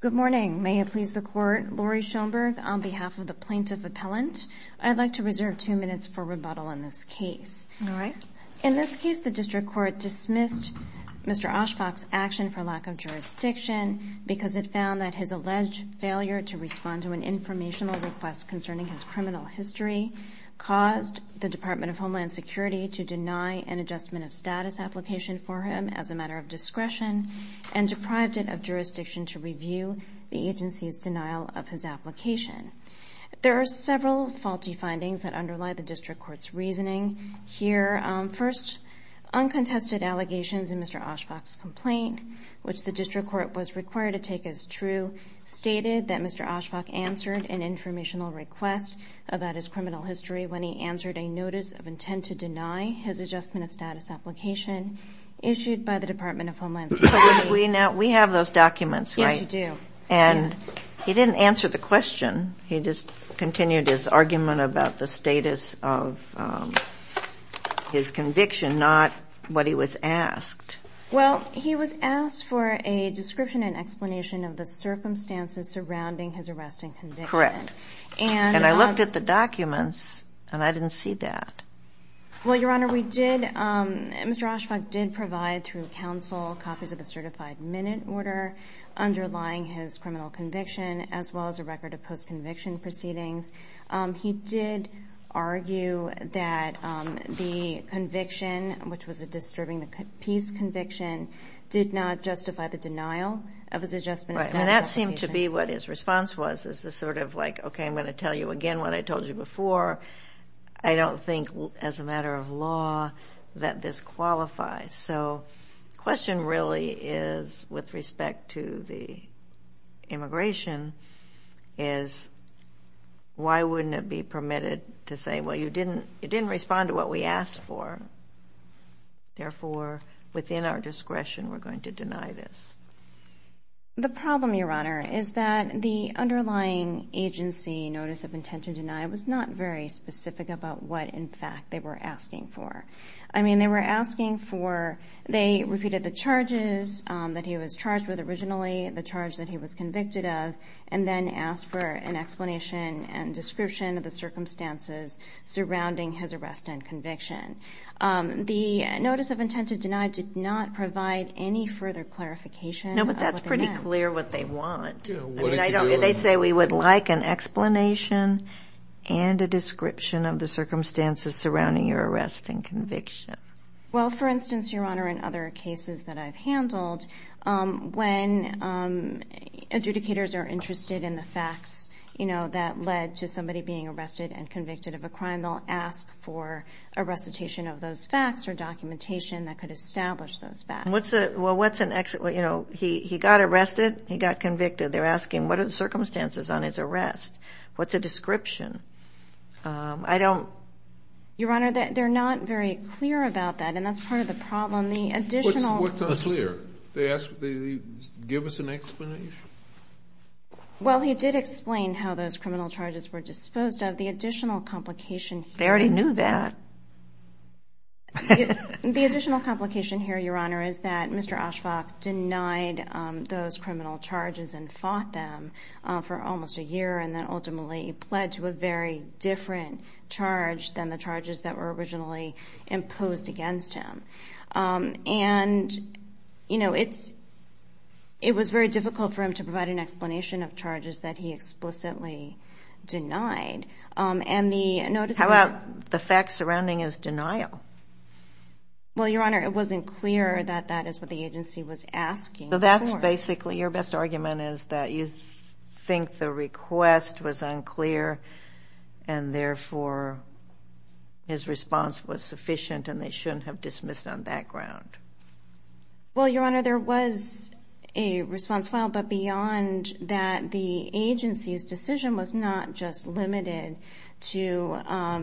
Good morning. May it please the Court, Laurie Schoenberg, on behalf of the Plaintiff Appellant, I'd like to reserve two minutes for rebuttal in this case. All right. In this case, the District Court dismissed Mr. Ashfaque's action for lack of jurisdiction because it found that his alleged failure to respond to an informational request concerning his criminal history caused the Department of Homeland Security to deny an adjustment of status application for him as a matter of discretion and deprived it of jurisdiction to review the agency's denial of his application. There are several faulty findings that underlie the District Court's reasoning here. First, uncontested allegations in Mr. Ashfaque's complaint, which the District Court was required to take as true, stated that Mr. Ashfaque answered an informational request about his criminal history when he answered a notice of intent to deny his adjustment of status application issued by the Department of Homeland Security. We have those documents, right? Yes, we do. And he didn't answer the question. He just continued his argument about the status of his conviction, not what he was asked. Well, he was asked for a description and explanation of the circumstances surrounding his arrest and conviction. Correct. And I looked at the documents and I didn't see that. Well, Your Honor, we did. Mr. Ashfaque did provide through counsel copies of the certified minute order underlying his criminal conviction as well as a record of post-conviction proceedings. He did argue that the conviction, which was a disturbing peace conviction, did not justify the denial of his adjustment of status application. It seems to be what his response was. This is sort of like, okay, I'm going to tell you again what I told you before. I don't think as a matter of law that this qualifies. So the question really is, with respect to the immigration, is why wouldn't it be permitted to say, well, you didn't respond to what we asked for. Therefore, within our discretion, we're going to deny this. The problem, Your Honor, is that the underlying agency notice of intention denied was not very specific about what, in fact, they were asking for. I mean, they were asking for they repeated the charges that he was charged with originally, the charge that he was convicted of, and then asked for an explanation and description of the circumstances surrounding his arrest and conviction. The notice of intent to deny did not provide any further clarification of what they meant. No, but that's pretty clear what they want. I mean, they say we would like an explanation and a description of the circumstances surrounding your arrest and conviction. Well, for instance, Your Honor, in other cases that I've handled, when adjudicators are interested in the facts that led to somebody being arrested and convicted of a crime, they'll ask for a recitation of those facts or documentation that could establish those facts. Well, what's an, you know, he got arrested, he got convicted. They're asking, what are the circumstances on his arrest? What's a description? I don't. Your Honor, they're not very clear about that, and that's part of the problem. What's unclear? They ask, give us an explanation. Well, he did explain how those criminal charges were disposed of. The additional complication here. They already knew that. The additional complication here, Your Honor, is that Mr. Oshkosh denied those criminal charges and fought them for almost a year and then ultimately pled to a very different charge than the charges that were originally imposed against him. And, you know, it was very difficult for him to provide an explanation of charges that he explicitly denied. How about the facts surrounding his denial? Well, Your Honor, it wasn't clear that that is what the agency was asking for. So that's basically, your best argument is that you think the request was unclear and, therefore, his response was sufficient and they shouldn't have dismissed on that ground. Well, Your Honor, there was a response filed, but beyond that, the agency's decision was not just limited to,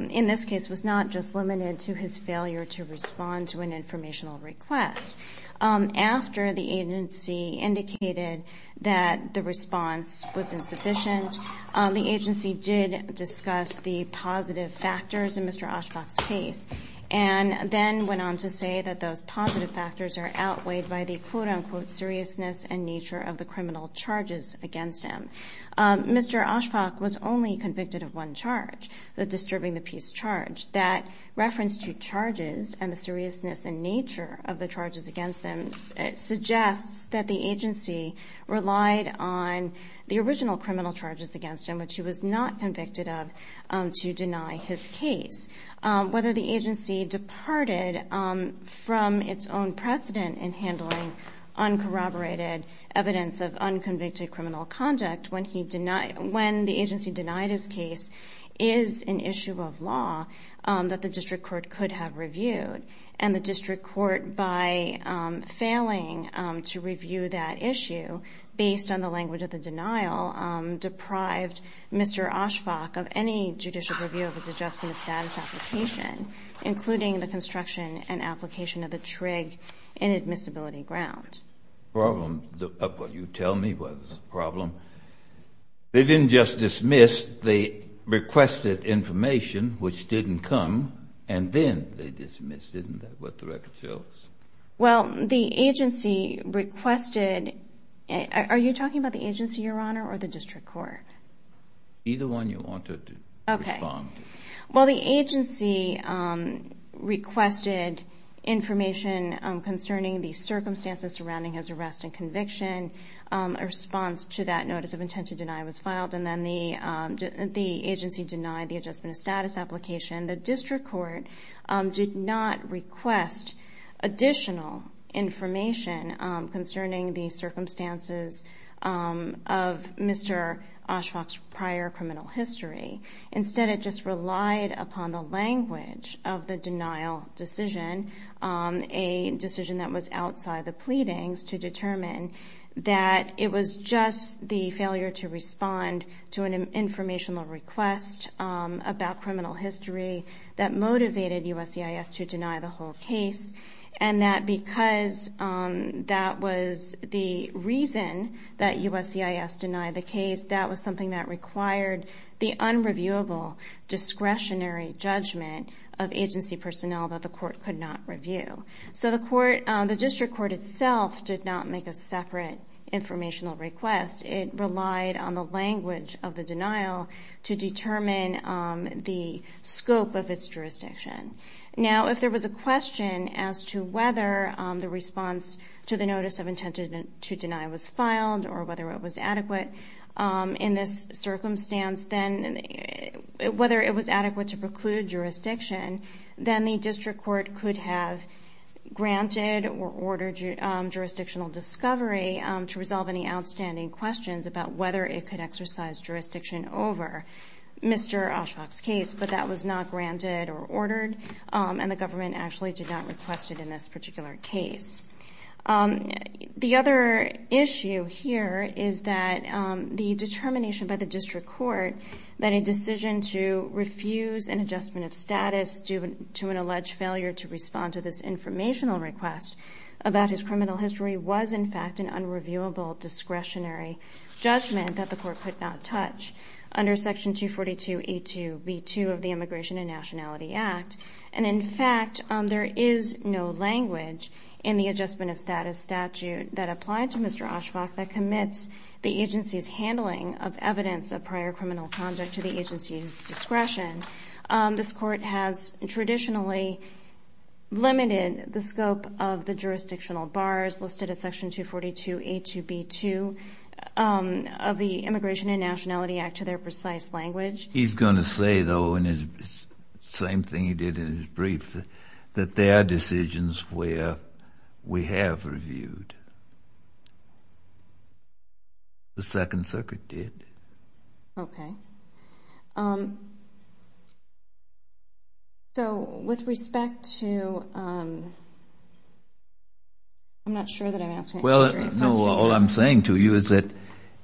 in this case, was not just limited to his failure to respond to an informational request. After the agency indicated that the response was insufficient, the agency did discuss the positive factors in Mr. Oshkosh's case and then went on to say that those positive factors are outweighed by the, quote-unquote, seriousness and nature of the criminal charges against him. Mr. Oshkosh was only convicted of one charge, the disturbing the peace charge. That reference to charges and the seriousness and nature of the charges against him suggests that the agency relied on the original criminal charges against him, which he was not convicted of, to deny his case. Whether the agency departed from its own precedent in handling uncorroborated evidence of unconvicted criminal conduct when the agency denied his case is an issue of law that the district court could have reviewed. And the district court, by failing to review that issue based on the language of the denial, deprived Mr. Oshkosh of any judicial review of his adjustment of status application, including the construction and application of the TRIG inadmissibility ground. The problem of what you tell me was a problem. They didn't just dismiss. They requested information, which didn't come, and then they dismissed. Isn't that what the record shows? Well, the agency requested... Are you talking about the agency, Your Honor, or the district court? Either one you want to respond to. Okay. Well, the agency requested information concerning the circumstances surrounding his arrest and conviction. A response to that notice of intent to deny was filed. And then the agency denied the adjustment of status application. The district court did not request additional information concerning the circumstances of Mr. Oshkosh's prior criminal history. Instead, it just relied upon the language of the denial decision, a decision that was outside the pleadings, to determine that it was just the failure to respond to an informational request about criminal history that motivated USCIS to deny the whole case, and that because that was the reason that USCIS denied the case, that was something that required the unreviewable discretionary judgment of agency personnel that the court could not review. So the district court itself did not make a separate informational request. It relied on the language of the denial to determine the scope of its jurisdiction. Now, if there was a question as to whether the response to the notice of intent to deny was filed or whether it was adequate to preclude jurisdiction, then the district court could have granted or ordered jurisdictional discovery to resolve any outstanding questions about whether it could exercise jurisdiction over Mr. Oshkosh's case. But that was not granted or ordered, and the government actually did not request it in this particular case. The other issue here is that the determination by the district court that a decision to refuse an adjustment of status due to an alleged failure to respond to this informational request about his criminal history was, in fact, an unreviewable discretionary judgment that the court could not touch under Section 242A2B2 of the Immigration and Nationality Act. And, in fact, there is no language in the adjustment of status statute that applied to Mr. Oshkosh that commits the agency's handling of evidence of prior criminal conduct to the agency's discretion. This court has traditionally limited the scope of the jurisdictional bars listed in Section 242A2B2 of the Immigration and Nationality Act to their precise language. He's going to say, though, in his same thing he did in his brief, that there are decisions where we have reviewed. The Second Circuit did. Okay. So with respect to—I'm not sure that I'm answering your question. No, all I'm saying to you is that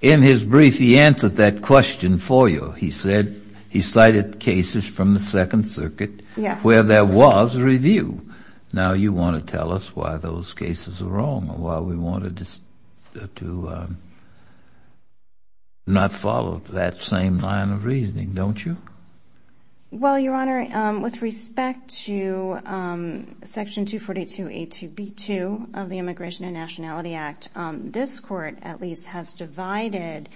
in his brief he answered that question for you. He said he cited cases from the Second Circuit where there was a review. Now you want to tell us why those cases are wrong or why we wanted to not follow that same line of reasoning, don't you? Well, Your Honor, with respect to Section 242A2B2 of the Immigration and Nationality Act, this court at least has divided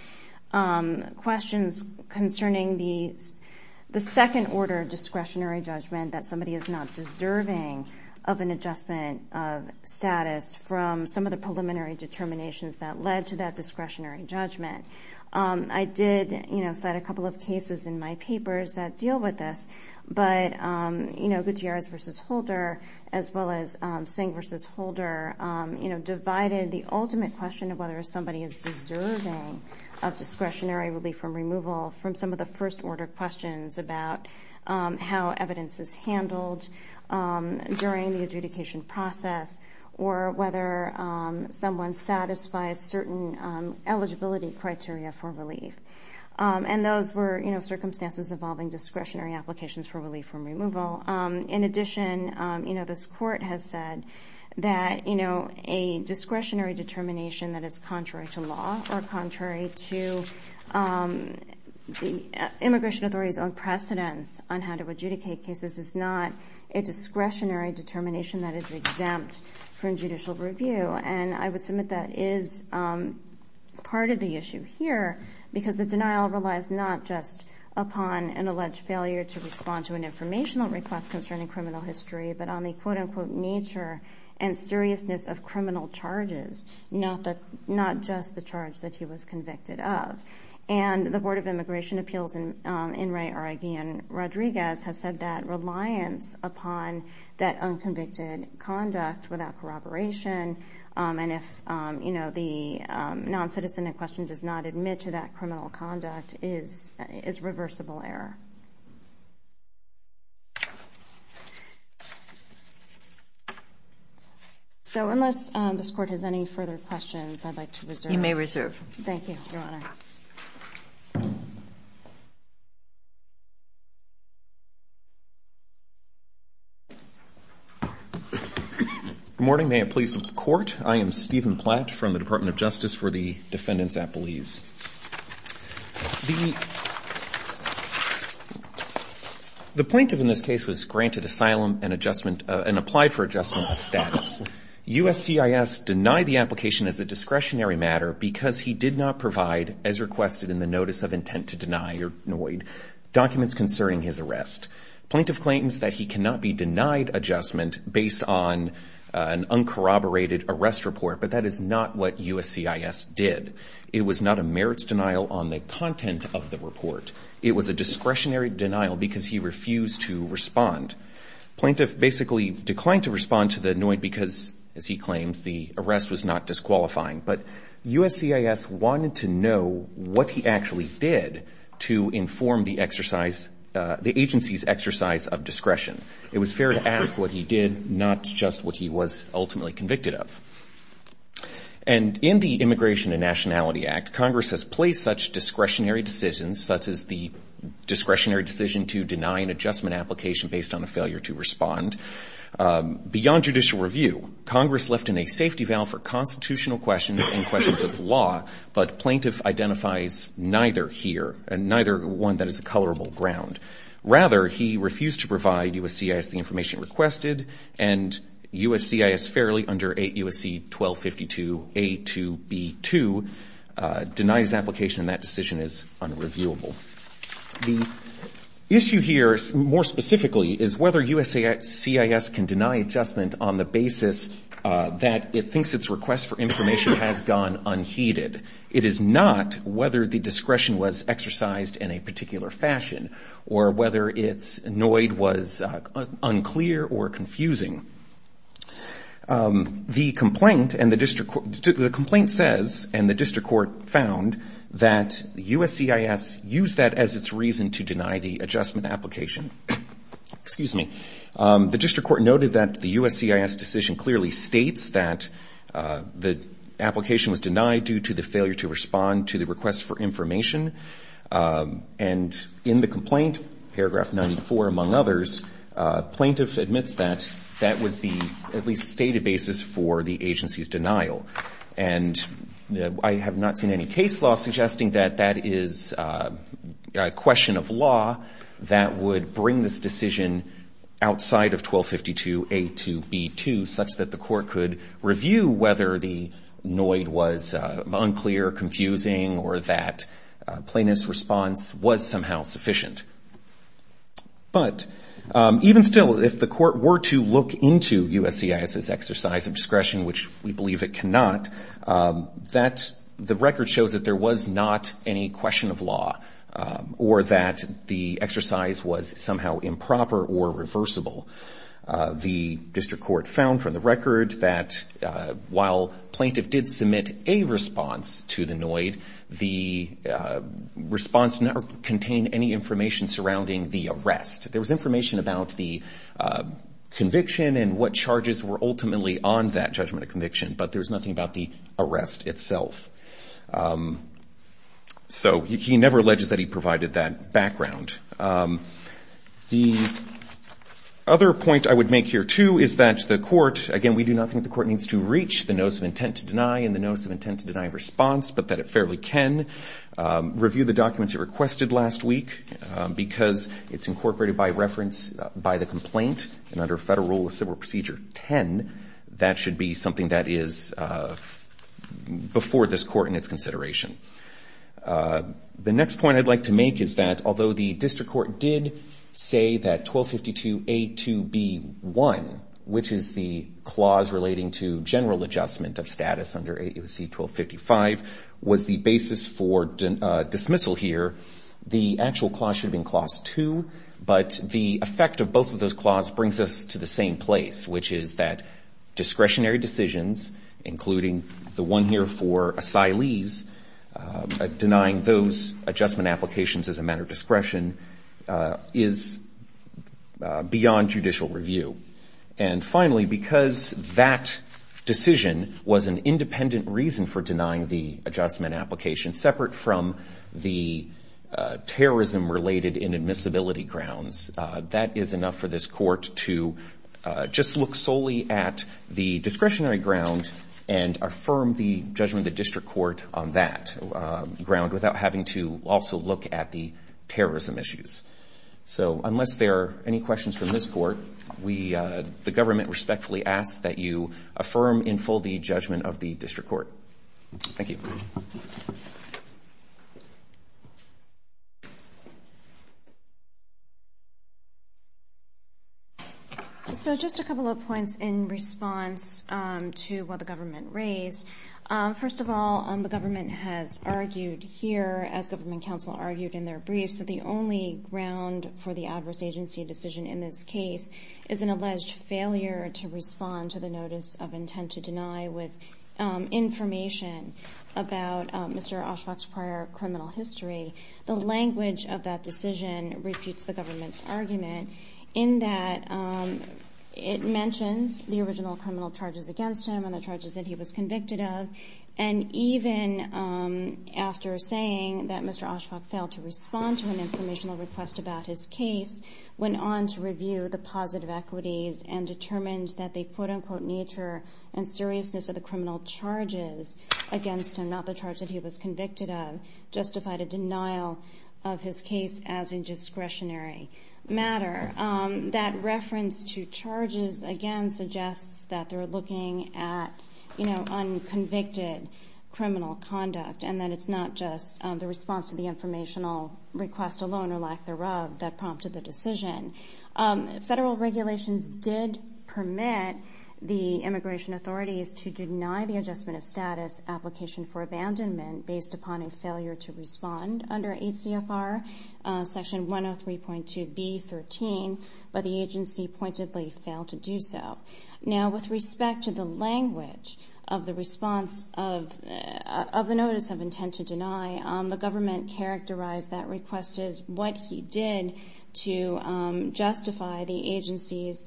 questions concerning the second-order discretionary judgment that somebody is not deserving of an adjustment of status from some of the preliminary determinations that led to that discretionary judgment. I did cite a couple of cases in my papers that deal with this, but Gutierrez v. Holder, as well as Singh v. Holder, divided the ultimate question of whether somebody is deserving of discretionary relief from removal from some of the first-order questions about how evidence is handled during the adjudication process or whether someone satisfies certain eligibility criteria for relief. And those were circumstances involving discretionary applications for relief from removal. In addition, this court has said that a discretionary determination that is contrary to law or contrary to the immigration authority's own precedence on how to adjudicate cases is not a discretionary determination that is exempt from judicial review. And I would submit that is part of the issue here because the denial relies not just upon an alleged failure to respond to an informational request concerning criminal history, but on the quote-unquote nature and seriousness of criminal charges, not just the charge that he was convicted of. And the Board of Immigration Appeals in Enrique Oregian Rodriguez has said that reliance upon that unconvicted conduct without corroboration and if the non-citizen in question does not admit to that criminal conduct is reversible error. So unless this court has any further questions, I'd like to reserve. Thank you, Your Honor. Good morning. May it please the Court. I am Stephen Platt from the Department of Justice for the Defendants at Belize. The plaintiff in this case was granted asylum and applied for adjustment of status. USCIS denied the application as a discretionary matter because he did not provide, as requested in the Notice of Intent to Deny or NOID, documents concerning his arrest. Plaintiff claims that he cannot be denied adjustment based on an uncorroborated arrest report, but that is not what USCIS did. It was not a merits denial on the content of the report. Plaintiff basically declined to respond to the NOID because, as he claims, the arrest was not disqualifying. But USCIS wanted to know what he actually did to inform the agency's exercise of discretion. It was fair to ask what he did, not just what he was ultimately convicted of. And in the Immigration and Nationality Act, Congress has placed such discretionary decisions, such as the discretionary decision to deny an adjustment application based on a failure to respond. Beyond judicial review, Congress left in a safety valve for constitutional questions and questions of law, but plaintiff identifies neither here, and neither one that is a colorable ground. Rather, he refused to provide USCIS the information requested, and USCIS fairly under 8 U.S.C. 1252A2B2 denies application, and that decision is unreviewable. The issue here, more specifically, is whether USCIS can deny adjustment on the basis that it thinks its request for information has gone unheeded. It is not whether the discretion was exercised in a particular fashion or whether its annoyed was unclear or confusing. The complaint says, and the district court found, that USCIS used that as its reason to deny the adjustment application. The district court noted that the USCIS decision clearly states that the application was denied due to the failure to respond to the request for information, and in the complaint, paragraph 94, among others, plaintiff admits that that was the at least stated basis for the agency's denial. And I have not seen any case law suggesting that that is a question of law that would bring this decision outside of 1252A2B2 such that the court could review whether the annoyed was unclear, confusing, or that plaintiff's response was somehow sufficient. But, even still, if the court were to look into USCIS's exercise of discretion, which we believe it cannot, the record shows that there was not any question of law or that the exercise was somehow improper or reversible. The district court found from the record that while plaintiff did submit a response to the annoyed, the response never contained any information surrounding the arrest. There was information about the conviction and what charges were ultimately on that judgment of conviction, but there was nothing about the arrest itself. So he never alleges that he provided that background. The other point I would make here, too, is that the court, again, we do not think the court needs to reach the notice of intent to deny and the notice of intent to deny a response, but that it fairly can review the documents it requested last week because it's incorporated by reference by the complaint, and under Federal Rule of Civil Procedure 10, that should be something that is before this court in its consideration. The next point I'd like to make is that although the district court did say that 1252A2B1, which is the clause relating to general adjustment of status under AUSC 1255, was the basis for dismissal here, the actual clause should have been Clause 2, but the effect of both of those clauses brings us to the same place, which is that discretionary decisions, including the one here for asylees, denying those adjustment applications as a matter of discretion is beyond judicial review. And finally, because that decision was an independent reason for denying the adjustment application, separate from the terrorism-related inadmissibility grounds, that is enough for this court to just look solely at the discretionary ground and affirm the judgment of the district court on that ground without having to also look at the terrorism issues. So unless there are any questions from this court, the government respectfully asks that you affirm in full the judgment of the district court. Thank you. So just a couple of points in response to what the government raised. First of all, the government has argued here, as government counsel argued in their briefs, that the only ground for the adverse agency decision in this case is an alleged failure to respond to the notice of intent and to deny with information about Mr. Oshkosh's prior criminal history. The language of that decision refutes the government's argument in that it mentions the original criminal charges against him and the charges that he was convicted of. And even after saying that Mr. Oshkosh failed to respond to an informational request about his case, went on to review the positive equities and determined that the, quote-unquote, nature and seriousness of the criminal charges against him, not the charge that he was convicted of, justified a denial of his case as a discretionary matter. That reference to charges against suggests that they're looking at, you know, unconvicted criminal conduct and that it's not just the response to the informational request alone or lack thereof that prompted the decision. Federal regulations did permit the immigration authorities to deny the adjustment of status application for abandonment based upon a failure to respond under HCFR Section 103.2b.13, but the agency pointedly failed to do so. Now, with respect to the language of the response of the notice of intent to deny, the government characterized that request as what he did to justify the agency's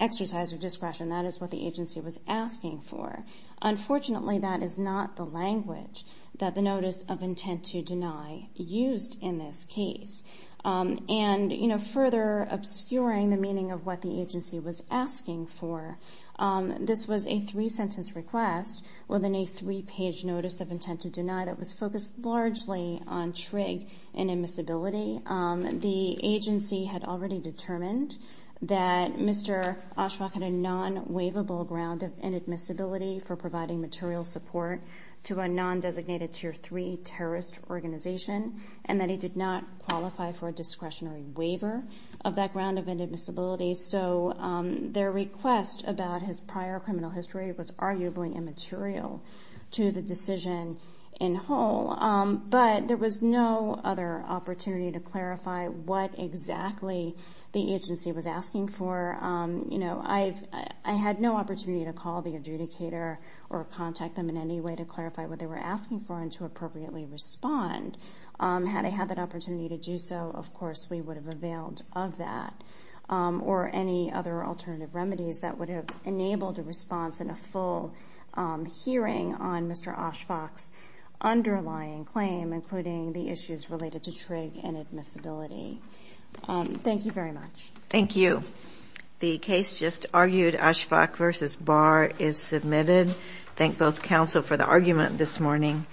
exercise of discretion. That is what the agency was asking for. Unfortunately, that is not the language that the notice of intent to deny used in this case. And, you know, further obscuring the meaning of what the agency was asking for, this was a three-sentence request within a three-page notice of intent to deny that was focused largely on trig and admissibility. The agency had already determined that Mr. Oshawa had a non-waivable ground of inadmissibility for providing material support to a non-designated Tier 3 terrorist organization and that he did not qualify for a discretionary waiver of that ground of inadmissibility. So their request about his prior criminal history was arguably immaterial to the decision in whole. But there was no other opportunity to clarify what exactly the agency was asking for. You know, I had no opportunity to call the adjudicator or contact them in any way to clarify what they were asking for and to appropriately respond. Had I had that opportunity to do so, of course, we would have availed of that. Or any other alternative remedies that would have enabled a response and a full hearing on Mr. Oshawa's underlying claim, including the issues related to trig and admissibility. Thank you very much. Thank you. The case just argued, Oshawa v. Barr, is submitted. Thank both counsel for the argument this morning.